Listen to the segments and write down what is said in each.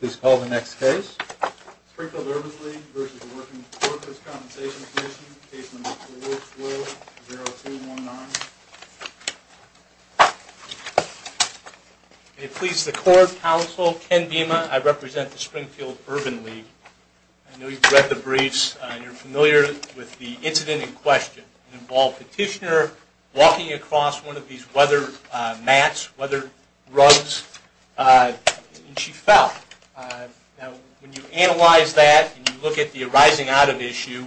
Please call the next case. Springfield Urban League v. Workers' Compensation Comm'n Case No. 4-12-0219. May it please the Court, Counsel, Ken Bima, I represent the Springfield Urban League. I know you've read the briefs and you're familiar with the incident in question. It involved a petitioner walking across one of these weather mats, weather rugs, and she fell. Now, when you analyze that and you look at the arising out of issue,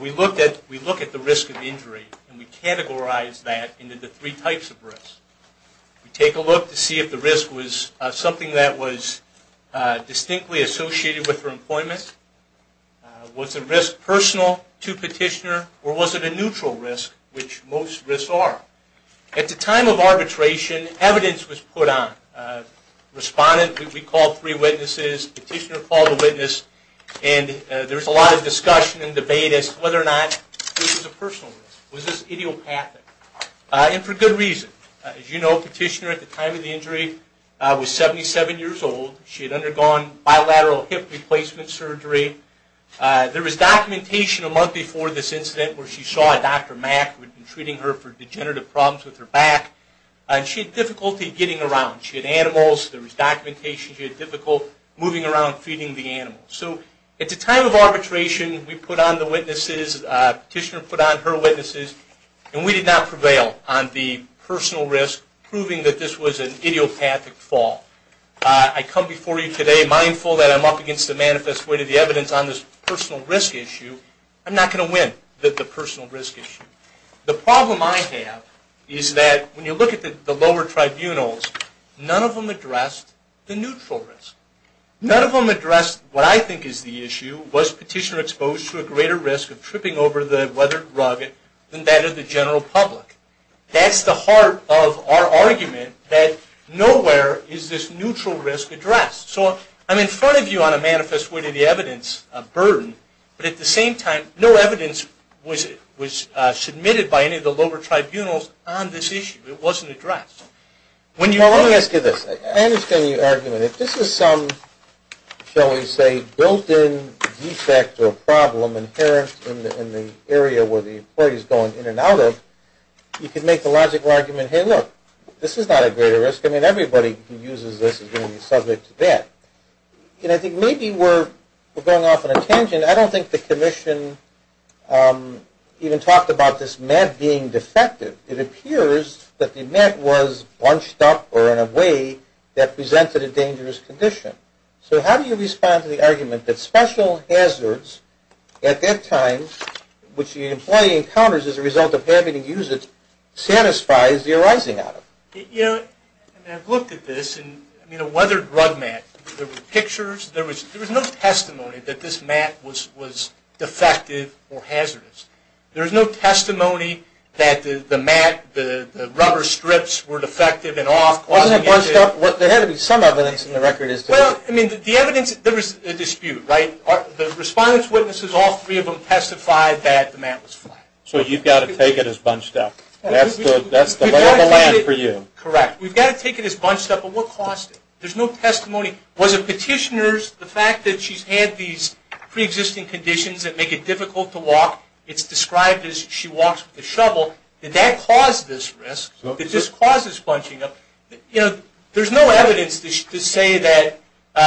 we look at the risk of injury and we categorize that into the three types of risk. We take a look to see if the risk was something that was distinctly associated with her employment, was the risk personal to the petitioner, or was it a neutral risk, which most risks are. At the time of arbitration, evidence was put on. Respondent, we called three witnesses. Petitioner called a witness. And there was a lot of discussion and debate as to whether or not this was a personal risk. Was this idiopathic? And for good reason. As you know, petitioner at the time of the injury was 77 years old. She had undergone bilateral hip replacement surgery. There was documentation a month before this incident where she saw a Dr. Mack who had been treating her for degenerative problems with her back. And she had difficulty getting around. She had animals. There was documentation. She had difficulty moving around feeding the animals. So at the time of arbitration, we put on the witnesses. Petitioner put on her witnesses. And we did not prevail on the personal risk, proving that this was an idiopathic fall. I come before you today mindful that I'm up against the manifest way to the evidence on this personal risk issue. I'm not going to win the personal risk issue. The problem I have is that when you look at the lower tribunals, none of them addressed the neutral risk. None of them addressed what I think is the issue. Was petitioner exposed to a greater risk of tripping over the weathered rugged than that of the general public? That's the heart of our argument that nowhere is this neutral risk addressed. So I'm in front of you on a manifest way to the evidence burden, but at the same time, no evidence was submitted by any of the lower tribunals on this issue. It wasn't addressed. Let me ask you this. I understand your argument. If this is some, shall we say, built-in defect or problem inherent in the area where the employee is going in and out of, you can make the logical argument, hey, look, this is not a greater risk. I mean, everybody who uses this is going to be subject to that. And I think maybe we're going off on a tangent. I don't think the commission even talked about this mat being defective. It appears that the mat was bunched up or in a way that presented a dangerous condition. So how do you respond to the argument that special hazards at that time, which the employee encounters as a result of having to use it, satisfies the arising of it? You know, I've looked at this. I mean, a weathered rug mat. There were pictures. There was no testimony that this mat was defective or hazardous. There was no testimony that the mat, the rubber strips were defective and off causing the issue. Wasn't it bunched up? There had to be some evidence in the record as to that. Well, I mean, the evidence, there was a dispute, right? The respondents, witnesses, all three of them testified that the mat was flat. So you've got to take it as bunched up. That's the lay of the land for you. Correct. We've got to take it as bunched up, but what cost it? There's no testimony. Was it petitioners, the fact that she's had these preexisting conditions that make it difficult to walk? It's described as she walks with a shovel. Did that cause this risk? Did this cause this bunching up? You know, there's no evidence to say that,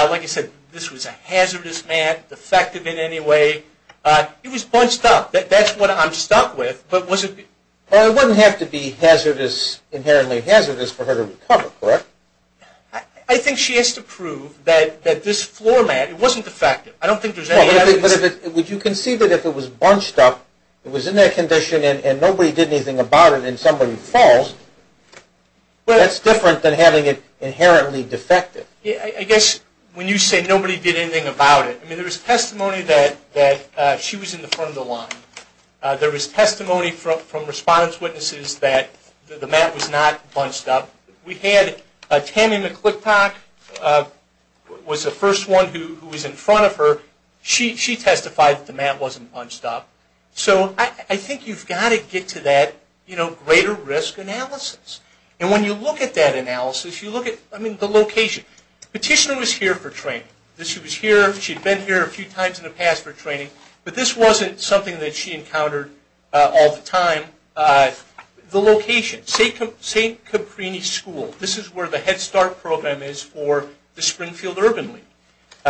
like I said, this was a hazardous mat. It wasn't defective in any way. It was bunched up. That's what I'm stuck with. But it wouldn't have to be inherently hazardous for her to recover, correct? I think she has to prove that this floor mat, it wasn't defective. I don't think there's any evidence. But would you concede that if it was bunched up, it was in that condition, and nobody did anything about it and somebody falls, that's different than having it inherently defective? I guess when you say nobody did anything about it, I mean there was testimony that she was in the front of the line. There was testimony from response witnesses that the mat was not bunched up. We had Tammy McClickpock was the first one who was in front of her. She testified that the mat wasn't bunched up. So I think you've got to get to that greater risk analysis. And when you look at that analysis, you look at the location. Petitioner was here for training. She'd been here a few times in the past for training. But this wasn't something that she encountered all the time. The location, St. Caprini School. This is where the Head Start program is for the Springfield Urban League.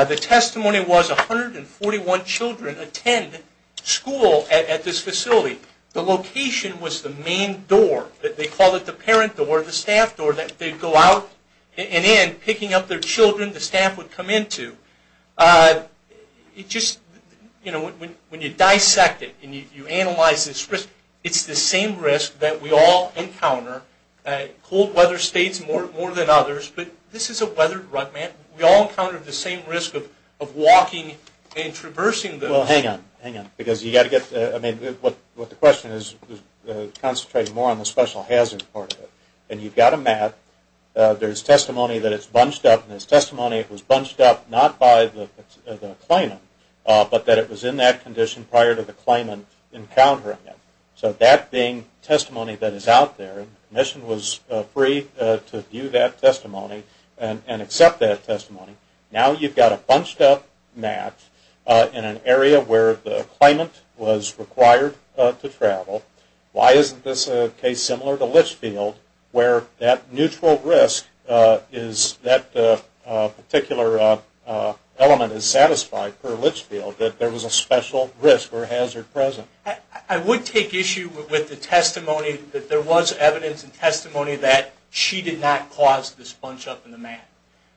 The testimony was 141 children attend school at this facility. The location was the main door. They called it the parent door, the staff door. They'd go out and in picking up their children the staff would come into. When you dissect it and you analyze this risk, it's the same risk that we all encounter. Cold weather states more than others. But this is a weathered rutment. We all encountered the same risk of walking and traversing the... Well, hang on, hang on. Because you've got to get... I mean, what the question is concentrating more on the special hazard part of it. And you've got a mat. There's testimony that it's bunched up. And there's testimony it was bunched up not by the claimant, but that it was in that condition prior to the claimant encountering it. So that being testimony that is out there, and the Commission was free to view that testimony and accept that testimony. Now you've got a bunched up mat in an area where the claimant was required to travel. Why isn't this a case similar to Litchfield, where that neutral risk is that particular element is satisfied per Litchfield, that there was a special risk or hazard present? I would take issue with the testimony that there was evidence and testimony that she did not cause this bunch up in the mat.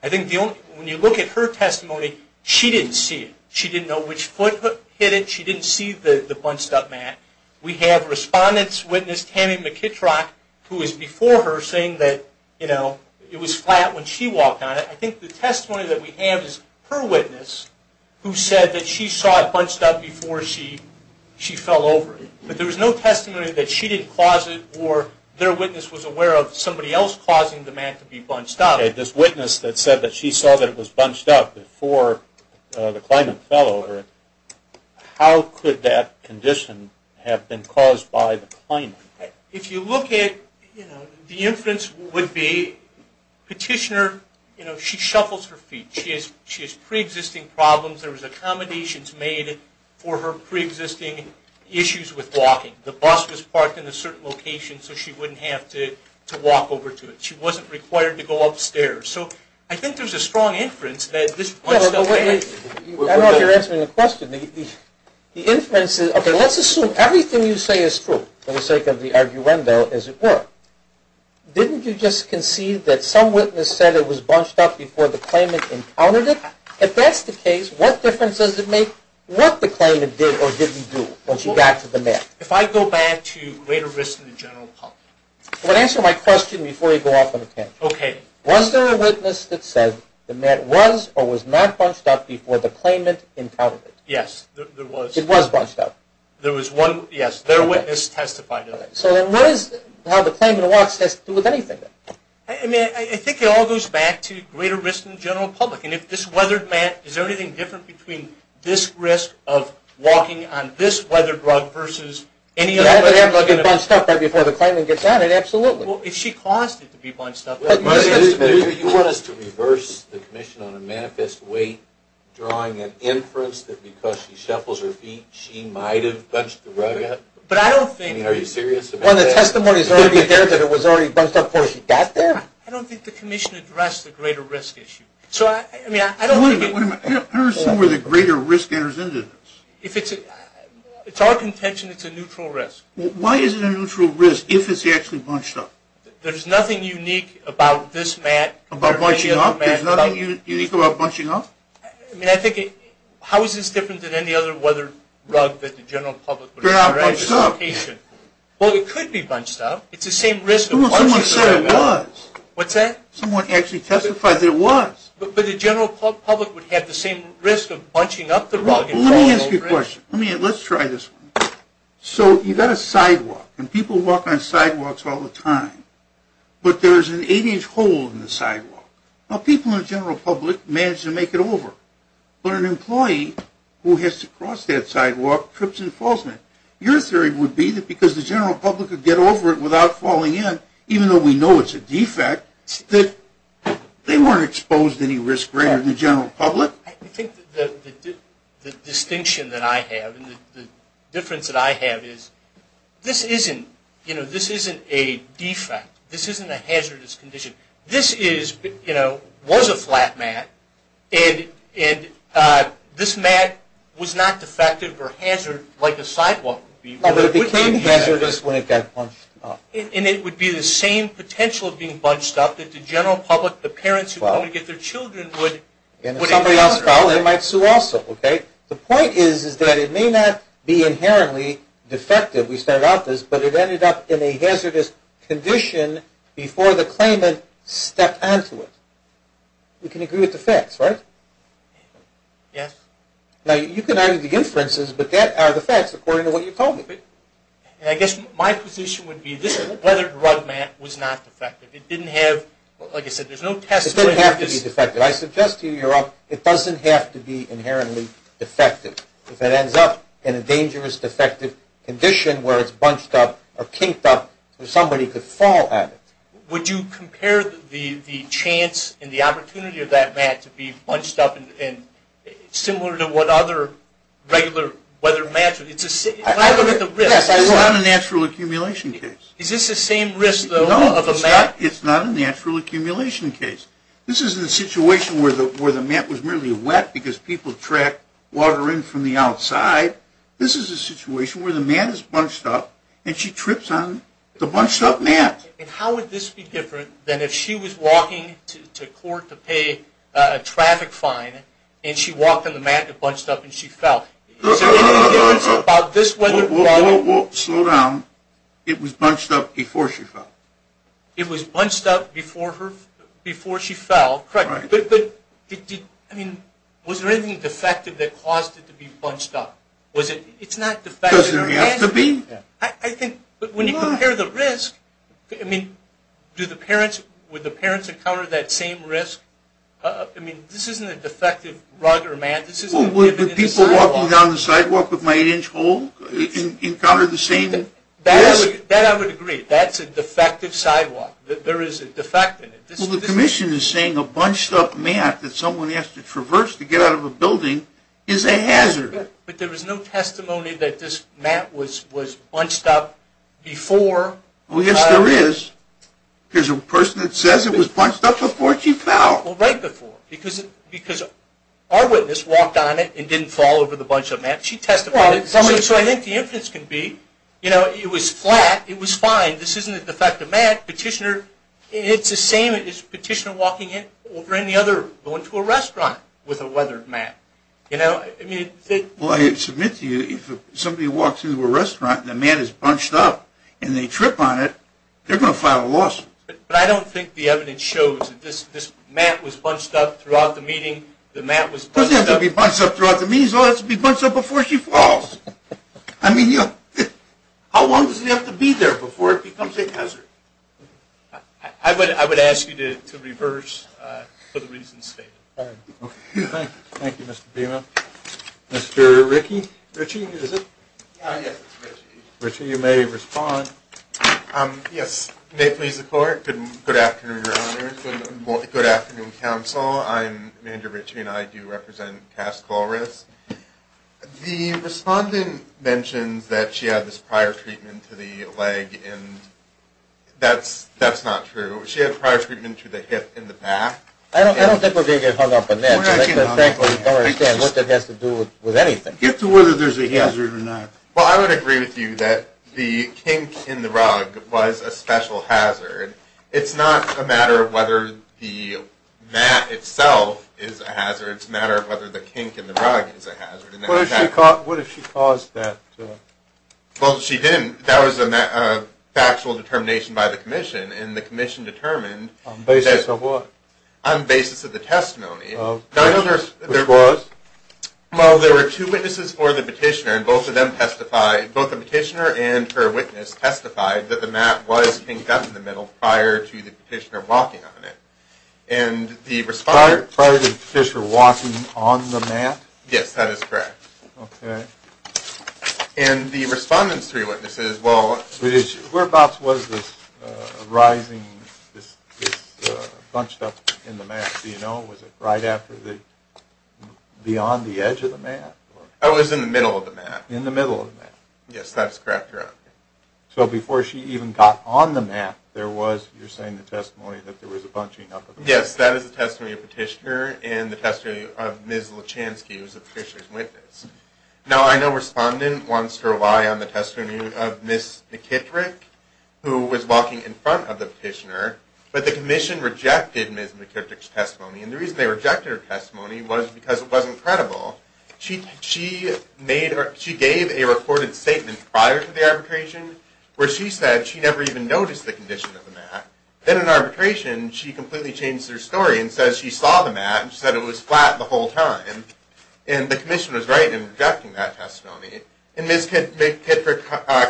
I think the only... When you look at her testimony, she didn't see it. She didn't know which foot hit it. She didn't see the bunched up mat. We have respondent's witness, Tammy McKittrock, who was before her saying that, you know, it was flat when she walked on it. I think the testimony that we have is her witness, who said that she saw it bunched up before she fell over it. But there was no testimony that she didn't cause it or their witness was aware of somebody else causing the mat to be bunched up. Okay, this witness that said that she saw that it was bunched up before the claimant fell over it, how could that condition have been caused by the claimant? If you look at, you know, the inference would be petitioner, you know, she shuffles her feet. She has preexisting problems. There was accommodations made for her preexisting issues with walking. The bus was parked in a certain location so she wouldn't have to walk over to it. She wasn't required to go upstairs. So I think there's a strong inference that this bunched up mat. I don't know if you're answering the question. The inference is, okay, let's assume everything you say is true for the sake of the arguendo as it were. Didn't you just concede that some witness said it was bunched up before the claimant encountered it? If that's the case, what difference does it make what the claimant did or didn't do when she got to the mat? If I go back to later risk in the general public. Answer my question before you go off on a tangent. Okay. Was there a witness that said the mat was or was not bunched up before the claimant encountered it? Yes, there was. It was bunched up? There was one, yes. There witness testified of it. So then what is how the claimant walks has to do with anything? I mean, I think it all goes back to greater risk in the general public. And if this weathered mat, is there anything different between this risk of walking on this weathered rug versus any other? If she caused it to be bunched up, absolutely. If she caused it to be bunched up. You want us to reverse the commission on a manifest weight, drawing an inference that because she shuffles her feet, she might have bunched the rug up? But I don't think. I mean, are you serious about that? Well, the testimony is already there that it was already bunched up before she got there. I don't think the commission addressed the greater risk issue. So, I mean, I don't think. I don't see where the greater risk enters into this. If it's our contention, it's a neutral risk. Why is it a neutral risk if it's actually bunched up? There's nothing unique about this mat. About bunching up? There's nothing unique about bunching up? I mean, I think it. How is this different than any other weathered rug that the general public would address? They're not bunched up. Well, it could be bunched up. It's the same risk. Someone said it was. What's that? Someone actually testified that it was. But the general public would have the same risk of bunching up the rug. Let me ask you a question. Let's try this one. So, you've got a sidewalk, and people walk on sidewalks all the time. But there's an eight-inch hole in the sidewalk. Now, people in the general public manage to make it over. But an employee who has to cross that sidewalk trips and falls on it. Your theory would be that because the general public could get over it without falling in, even though we know it's a defect, that they weren't exposed to any risk greater than the general public. I think the distinction that I have and the difference that I have is this isn't a defect. This isn't a hazardous condition. This was a flat mat, and this mat was not defective or hazardous like a sidewalk would be. But it became hazardous when it got bunched up. And it would be the same potential of being bunched up that the general might sue also. The point is that it may not be inherently defective. We started out this, but it ended up in a hazardous condition before the claimant stepped onto it. We can agree with the facts, right? Yes. Now, you can argue the inferences, but that are the facts according to what you told me. I guess my position would be this weathered rug mat was not defective. It didn't have, like I said, there's no test for it. It didn't have to be defective. I suggest to you you're up. It doesn't have to be inherently defective. If it ends up in a dangerous defective condition where it's bunched up or kinked up, somebody could fall at it. Would you compare the chance and the opportunity of that mat to be bunched up similar to what other regular weathered mats would? It's a risk. It's not a natural accumulation case. Is this the same risk, though, of a mat? No, it's not a natural accumulation case. This isn't a situation where the mat was merely wet because people track water in from the outside. This is a situation where the mat is bunched up and she trips on the bunched up mat. And how would this be different than if she was walking to court to pay a traffic fine and she walked on the mat and it bunched up and she fell? Is there any difference about this weathered rug mat? Whoa, whoa, whoa. Slow down. It was bunched up before she fell. It was bunched up before she fell. Correct. But was there anything defective that caused it to be bunched up? It's not defective. Does there have to be? I think when you compare the risk, I mean, would the parents encounter that same risk? I mean, this isn't a defective rug or mat. This isn't a divot in the sidewalk. Would people walking down the sidewalk with my 8-inch hole encounter the same risk? That I would agree. That's a defective sidewalk. There is a defect in it. Well, the commission is saying a bunched up mat that someone has to traverse to get out of a building is a hazard. But there was no testimony that this mat was bunched up before. Oh, yes, there is. There's a person that says it was bunched up before she fell. Well, right before because our witness walked on it and didn't fall over the bunched up mat. She testified. So I think the evidence can be, you know, it was flat. It was fine. This isn't a defective mat. Petitioner, it's the same as petitioner walking in over any other going to a restaurant with a weathered mat. You know? Well, I submit to you if somebody walks into a restaurant and the mat is bunched up and they trip on it, they're going to file a lawsuit. But I don't think the evidence shows that this mat was bunched up throughout the meeting. The mat was bunched up. It doesn't have to be bunched up throughout the meeting. It has to be bunched up before she falls. I mean, how long does it have to be there before it becomes a hazard? I would ask you to reverse for the reasons stated. All right. Okay. Thank you, Mr. Bima. Mr. Ritchie, is it? Yes, it's Ritchie. Ritchie, you may respond. Yes. May it please the Court. Good afternoon, Your Honor. Good afternoon, Counsel. I'm Andrew Ritchie, and I do represent Task Force. The respondent mentions that she had this prior treatment to the leg, and that's not true. She had prior treatment to the hip and the back. I don't think we're going to get hung up on that. Frankly, I don't understand what that has to do with anything. Get to whether there's a hazard or not. Well, I would agree with you that the kink in the rug was a special hazard. It's not a matter of whether the mat itself is a hazard. It's a matter of whether the kink in the rug is a hazard. What if she caused that? Well, she didn't. That was a factual determination by the Commission, and the Commission determined that the mat was kinked up in the middle prior to the petitioner walking on it. Prior to the petitioner walking on the mat? Yes, that is correct. Okay. And the respondent's three witnesses, well, Whereabouts was this rising, this bunched up in the mat? Do you know? Was it right after the, beyond the edge of the mat? It was in the middle of the mat. In the middle of the mat. Yes, that is correct, Your Honor. So before she even got on the mat, there was, you're saying the testimony that there was a bunching up of the mat? Yes, that is the testimony of the petitioner, and the testimony of Ms. Lachansky, who was the petitioner's witness. Now, I know respondent wants to rely on the testimony of Ms. McKittrick, who was walking in front of the petitioner, but the Commission rejected Ms. McKittrick's testimony, and the reason they rejected her testimony was because it wasn't credible. She made, or she gave a recorded statement prior to the arbitration where she said she never even noticed the condition of the mat. Then in arbitration, she completely changed her story and says she saw the mat and said it was flat the whole time, and the Commission was right in rejecting that testimony. And Ms. McKittrick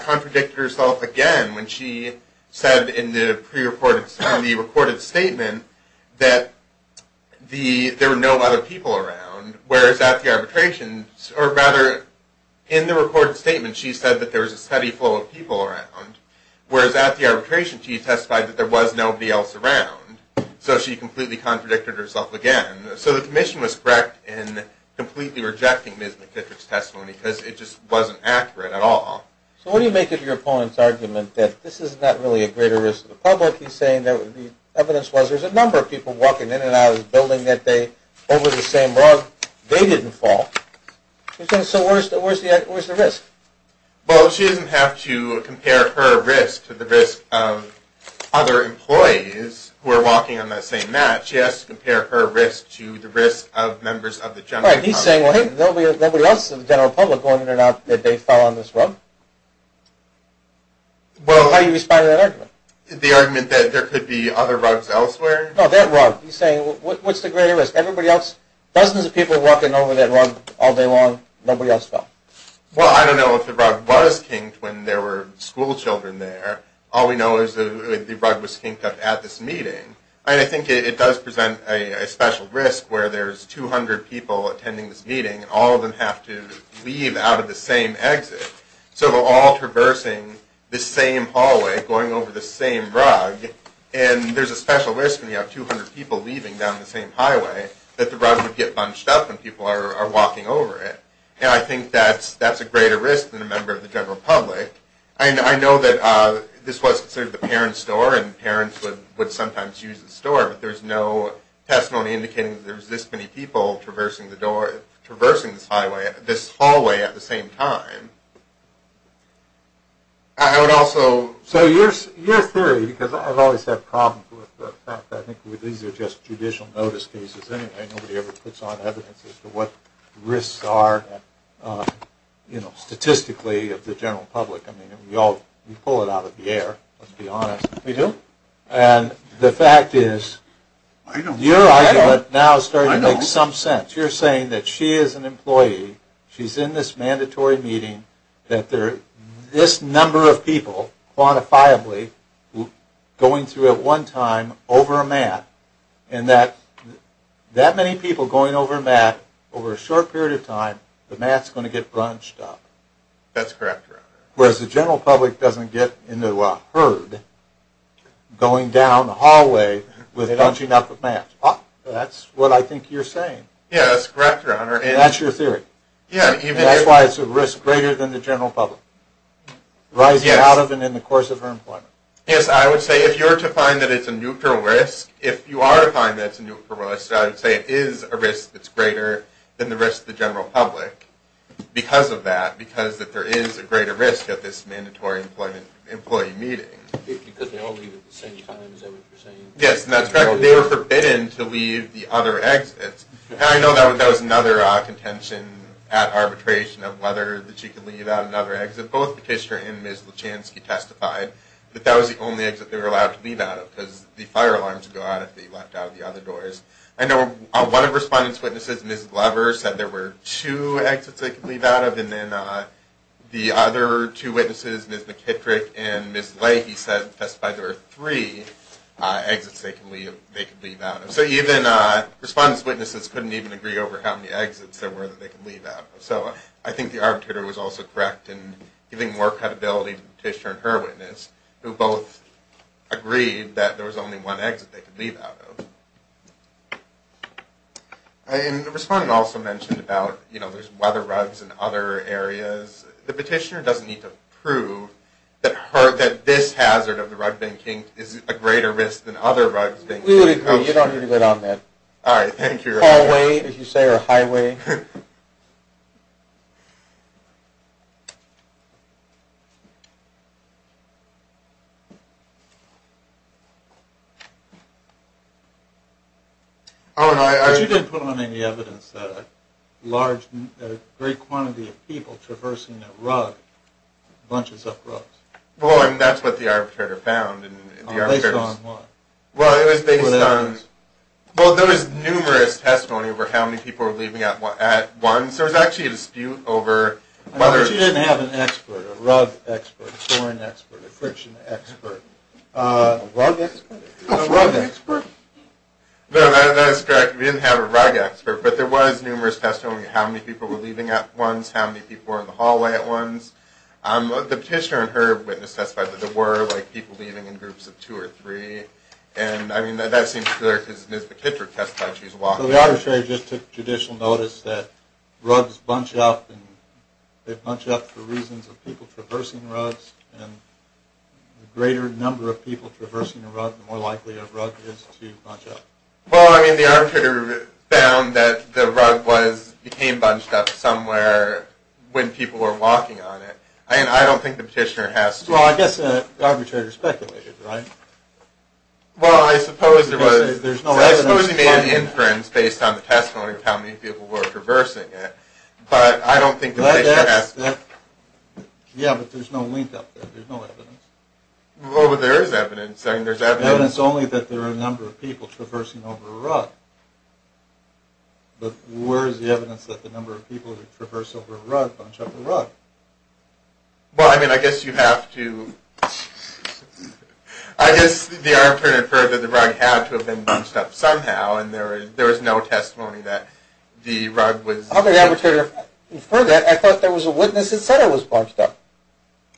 contradicted herself again when she said in the pre-recorded, in the recorded statement that the, there were no other people around, whereas at the arbitration, or rather, in the recorded statement, she said that there was a steady flow of people around, whereas at the arbitration, she testified that there was nobody else around, so she completely contradicted herself again. So the Commission was correct in completely rejecting Ms. McKittrick's testimony because it just wasn't accurate at all. So what do you make of your opponent's argument that this is not really a greater risk to the public? He's saying that the evidence was there's a number of people walking in and out of this building that day over the same rug. They didn't fall. So where's the risk? Well, she doesn't have to compare her risk to the risk of other employees who are walking on that same mat. She has to compare her risk to the risk of members of the general public. Right, he's saying, well, hey, there'll be nobody else in the general public going in and out that day fell on this rug. Well, how do you respond to that argument? The argument that there could be other rugs elsewhere? No, that rug. He's saying, what's the greater risk? Everybody else, dozens of people walking over that rug all day long, nobody else fell. Well, I don't know if the rug was kinked when there were schoolchildren there. All we know is the rug was kinked up at this meeting. I think it does present a special risk where there's 200 people attending this meeting and all of them have to leave out of the same exit. So they're all traversing the same hallway, going over the same rug, and there's a special risk when you have 200 people leaving down the same highway that the rug would get bunched up and people are walking over it. And I think that's a greater risk than a member of the general public. I know that this was sort of the parents' door, and parents would sometimes use the store, but there's no testimony indicating that there's this many people traversing this hallway at the same time. I would also... So your theory, because I've always had problems with the fact that these are just judicial notice cases anyway, nobody ever puts on evidence as to what risks are statistically of the general public. I mean, we all pull it out of the air, let's be honest. We do. And the fact is your argument now is starting to make some sense. You're saying that she is an employee, she's in this mandatory meeting, that there are this number of people, quantifiably, going through at one time over a mat, and that that many people going over a mat over a short period of time, the mat's going to get bunched up. That's correct, Your Honor. Whereas the general public doesn't get into a herd going down the hallway with a bunching up of mats. That's what I think you're saying. Yeah, that's correct, Your Honor. And that's your theory. That's why it's a risk greater than the general public, rising out of and in the course of her employment. Yes, I would say if you were to find that it's a neutral risk, if you are to find that it's a neutral risk, I would say it is a risk that's greater than the risk of the general public because of that, because there is a greater risk at this mandatory employee meeting. Because they all leave at the same time, is that what you're saying? Yes, that's correct. They were forbidden to leave the other exits. And I know that was another contention at arbitration of whether that you could leave out another exit. Both McKister and Ms. Lachansky testified that that was the only exit they were allowed to leave out of because the fire alarms would go out if they left out of the other doors. I know one of the respondents' witnesses, Ms. Glover, said there were two exits they could leave out of. And then the other two witnesses, Ms. McKittrick and Ms. Leahy, testified there were three exits they could leave out of. So even respondents' witnesses couldn't even agree over how many exits there were that they could leave out of. So I think the arbitrator was also correct in giving more credibility to the petitioner and her witness who both agreed that there was only one exit they could leave out of. And the respondent also mentioned about, you know, there's weather rugs in other areas. The petitioner doesn't need to prove that this hazard of the rug being kinked is a greater risk than other rugs being kinked. We would agree. You don't need to go down that hallway, as you say, or highway. You didn't put on any evidence that a great quantity of people traversing that rug bunches up rugs. That's what the arbitrator found. Based on what? Well, it was based on – Well, there was numerous testimony over how many people were leaving out at once. There was actually a dispute over whether – But you didn't have an expert, a rug expert, a pouring expert, a friction expert. A rug expert? A rug expert? No, that's correct. We didn't have a rug expert, but there was numerous testimony of how many people were leaving at once, how many people were in the hallway at once. The petitioner and her witness testified that there were, like, two or three. And, I mean, that seems clear because Ms. McKittrick testified she was walking. So the arbitrator just took judicial notice that rugs bunch up, and they bunch up for reasons of people traversing rugs, and the greater number of people traversing a rug, the more likely a rug is to bunch up. Well, I mean, the arbitrator found that the rug was – became bunched up somewhere when people were walking on it. I don't think the petitioner has to – Well, I guess the arbitrator speculated, right? Well, I suppose there was – There's no evidence. I suppose he made an inference based on the testimony of how many people were traversing it, but I don't think the petitioner has to – Yeah, but there's no link up there. There's no evidence. Well, there is evidence. I mean, there's evidence – Evidence only that there are a number of people traversing over a rug. But where is the evidence that the number of people that traverse over a rug bunch up a rug? Well, I mean, I guess you have to – I guess the arbitrator inferred that the rug had to have been bunched up somehow, and there was no testimony that the rug was – Well, the arbitrator inferred that. I thought there was a witness that said it was bunched up.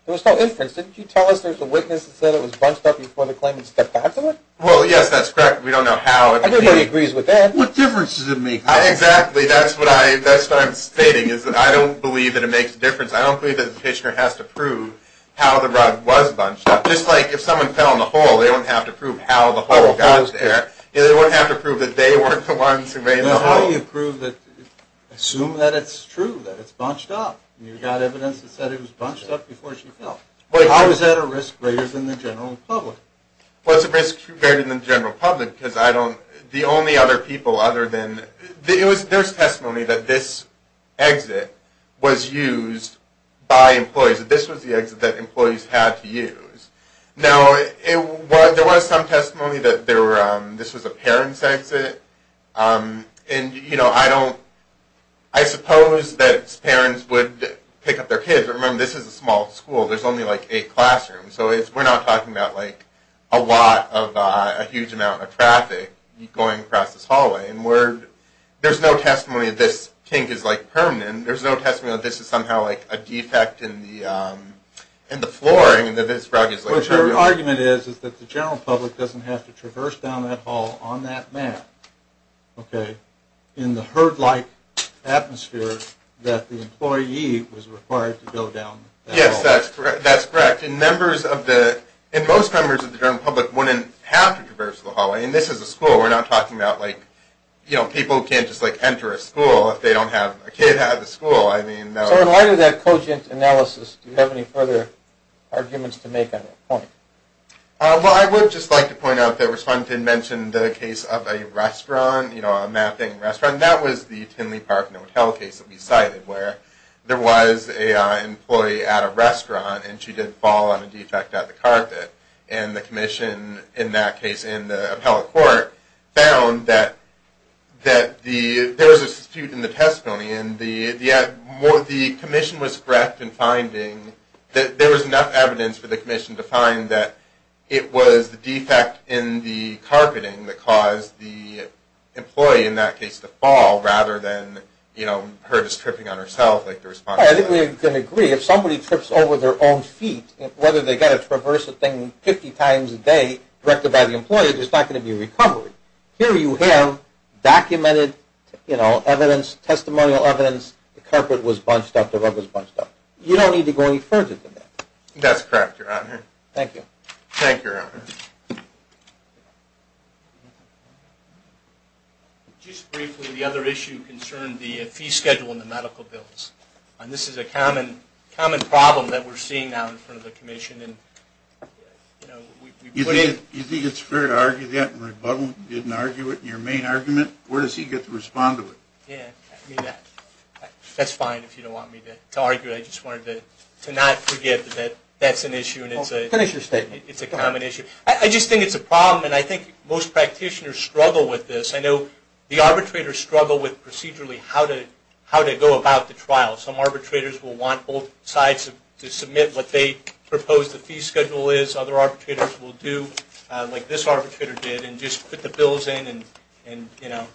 There was no inference. Didn't you tell us there was a witness that said it was bunched up before the claimant stepped out to it? Well, yes, that's correct. We don't know how. Everybody agrees with that. What difference does it make? Exactly. See, that's what I'm stating, is that I don't believe that it makes a difference. I don't believe that the petitioner has to prove how the rug was bunched up. Just like if someone fell in a hole, they don't have to prove how the hole got there. They don't have to prove that they weren't the ones who made the hole. How do you prove that – assume that it's true, that it's bunched up? You've got evidence that said it was bunched up before she fell. How is that a risk greater than the general public? What's a risk greater than the general public? Because I don't – the only other people other than – there's testimony that this exit was used by employees, that this was the exit that employees had to use. Now, there was some testimony that this was a parent's exit. And, you know, I don't – I suppose that parents would pick up their kids. Remember, this is a small school. There's only like eight classrooms. So we're not talking about like a lot of – a huge amount of traffic going across this hallway. And we're – there's no testimony that this kink is like permanent. There's no testimony that this is somehow like a defect in the floor. I mean, that this rug is like – But your argument is that the general public doesn't have to traverse down that hall on that map, okay, in the herd-like atmosphere that the employee was required to go down that hallway. Yes, that's correct. And members of the – and most members of the general public wouldn't have to traverse the hallway. And this is a school. We're not talking about like, you know, people can't just like enter a school if they don't have a kid at the school. I mean, that would – So in light of that cogent analysis, do you have any further arguments to make on that point? Well, I would just like to point out that respondent mentioned the case of a restaurant, you know, a mapping restaurant. That was the Tinley Park Hotel case that we cited where there was an employee at a restaurant and she did fall on a defect at the carpet. And the commission in that case in the appellate court found that there was a dispute in the testimony and the commission was correct in finding that there was enough evidence for the commission to find that it was the defect in the carpeting that caused the employee in that case to fall rather than, you know, her just tripping on herself like the respondent said. I think we can agree. If somebody trips over their own feet, whether they've got to traverse the thing 50 times a day directed by the employee, there's not going to be a recovery. Here you have documented, you know, evidence, testimonial evidence, the carpet was bunched up, the rug was bunched up. You don't need to go any further than that. That's correct, Your Honor. Thank you. Thank you, Your Honor. Just briefly, the other issue concerned the fee schedule in the medical bills. And this is a common problem that we're seeing now in front of the commission. You think it's fair to argue that in rebuttal? You didn't argue it in your main argument? Where does he get to respond to it? That's fine if you don't want me to argue it. I just wanted to not forget that that's an issue. Finish your statement. It's a common issue. I just think it's a problem and I think most practitioners struggle with this. I know the arbitrators struggle with procedurally how to go about the trial. Some arbitrators will want both sides to submit what they propose the fee schedule is. Other arbitrators will do like this arbitrator did and just put the bills in and, you know,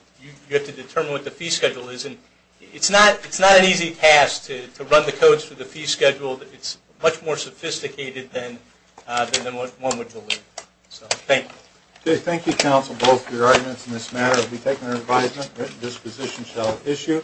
you have to determine what the fee schedule is. And it's not an easy task to run the codes for the fee schedule. It's much more sophisticated than one would believe. So, thank you. Okay, thank you, counsel, both for your arguments in this matter. We've taken our advisement that this position shall issue.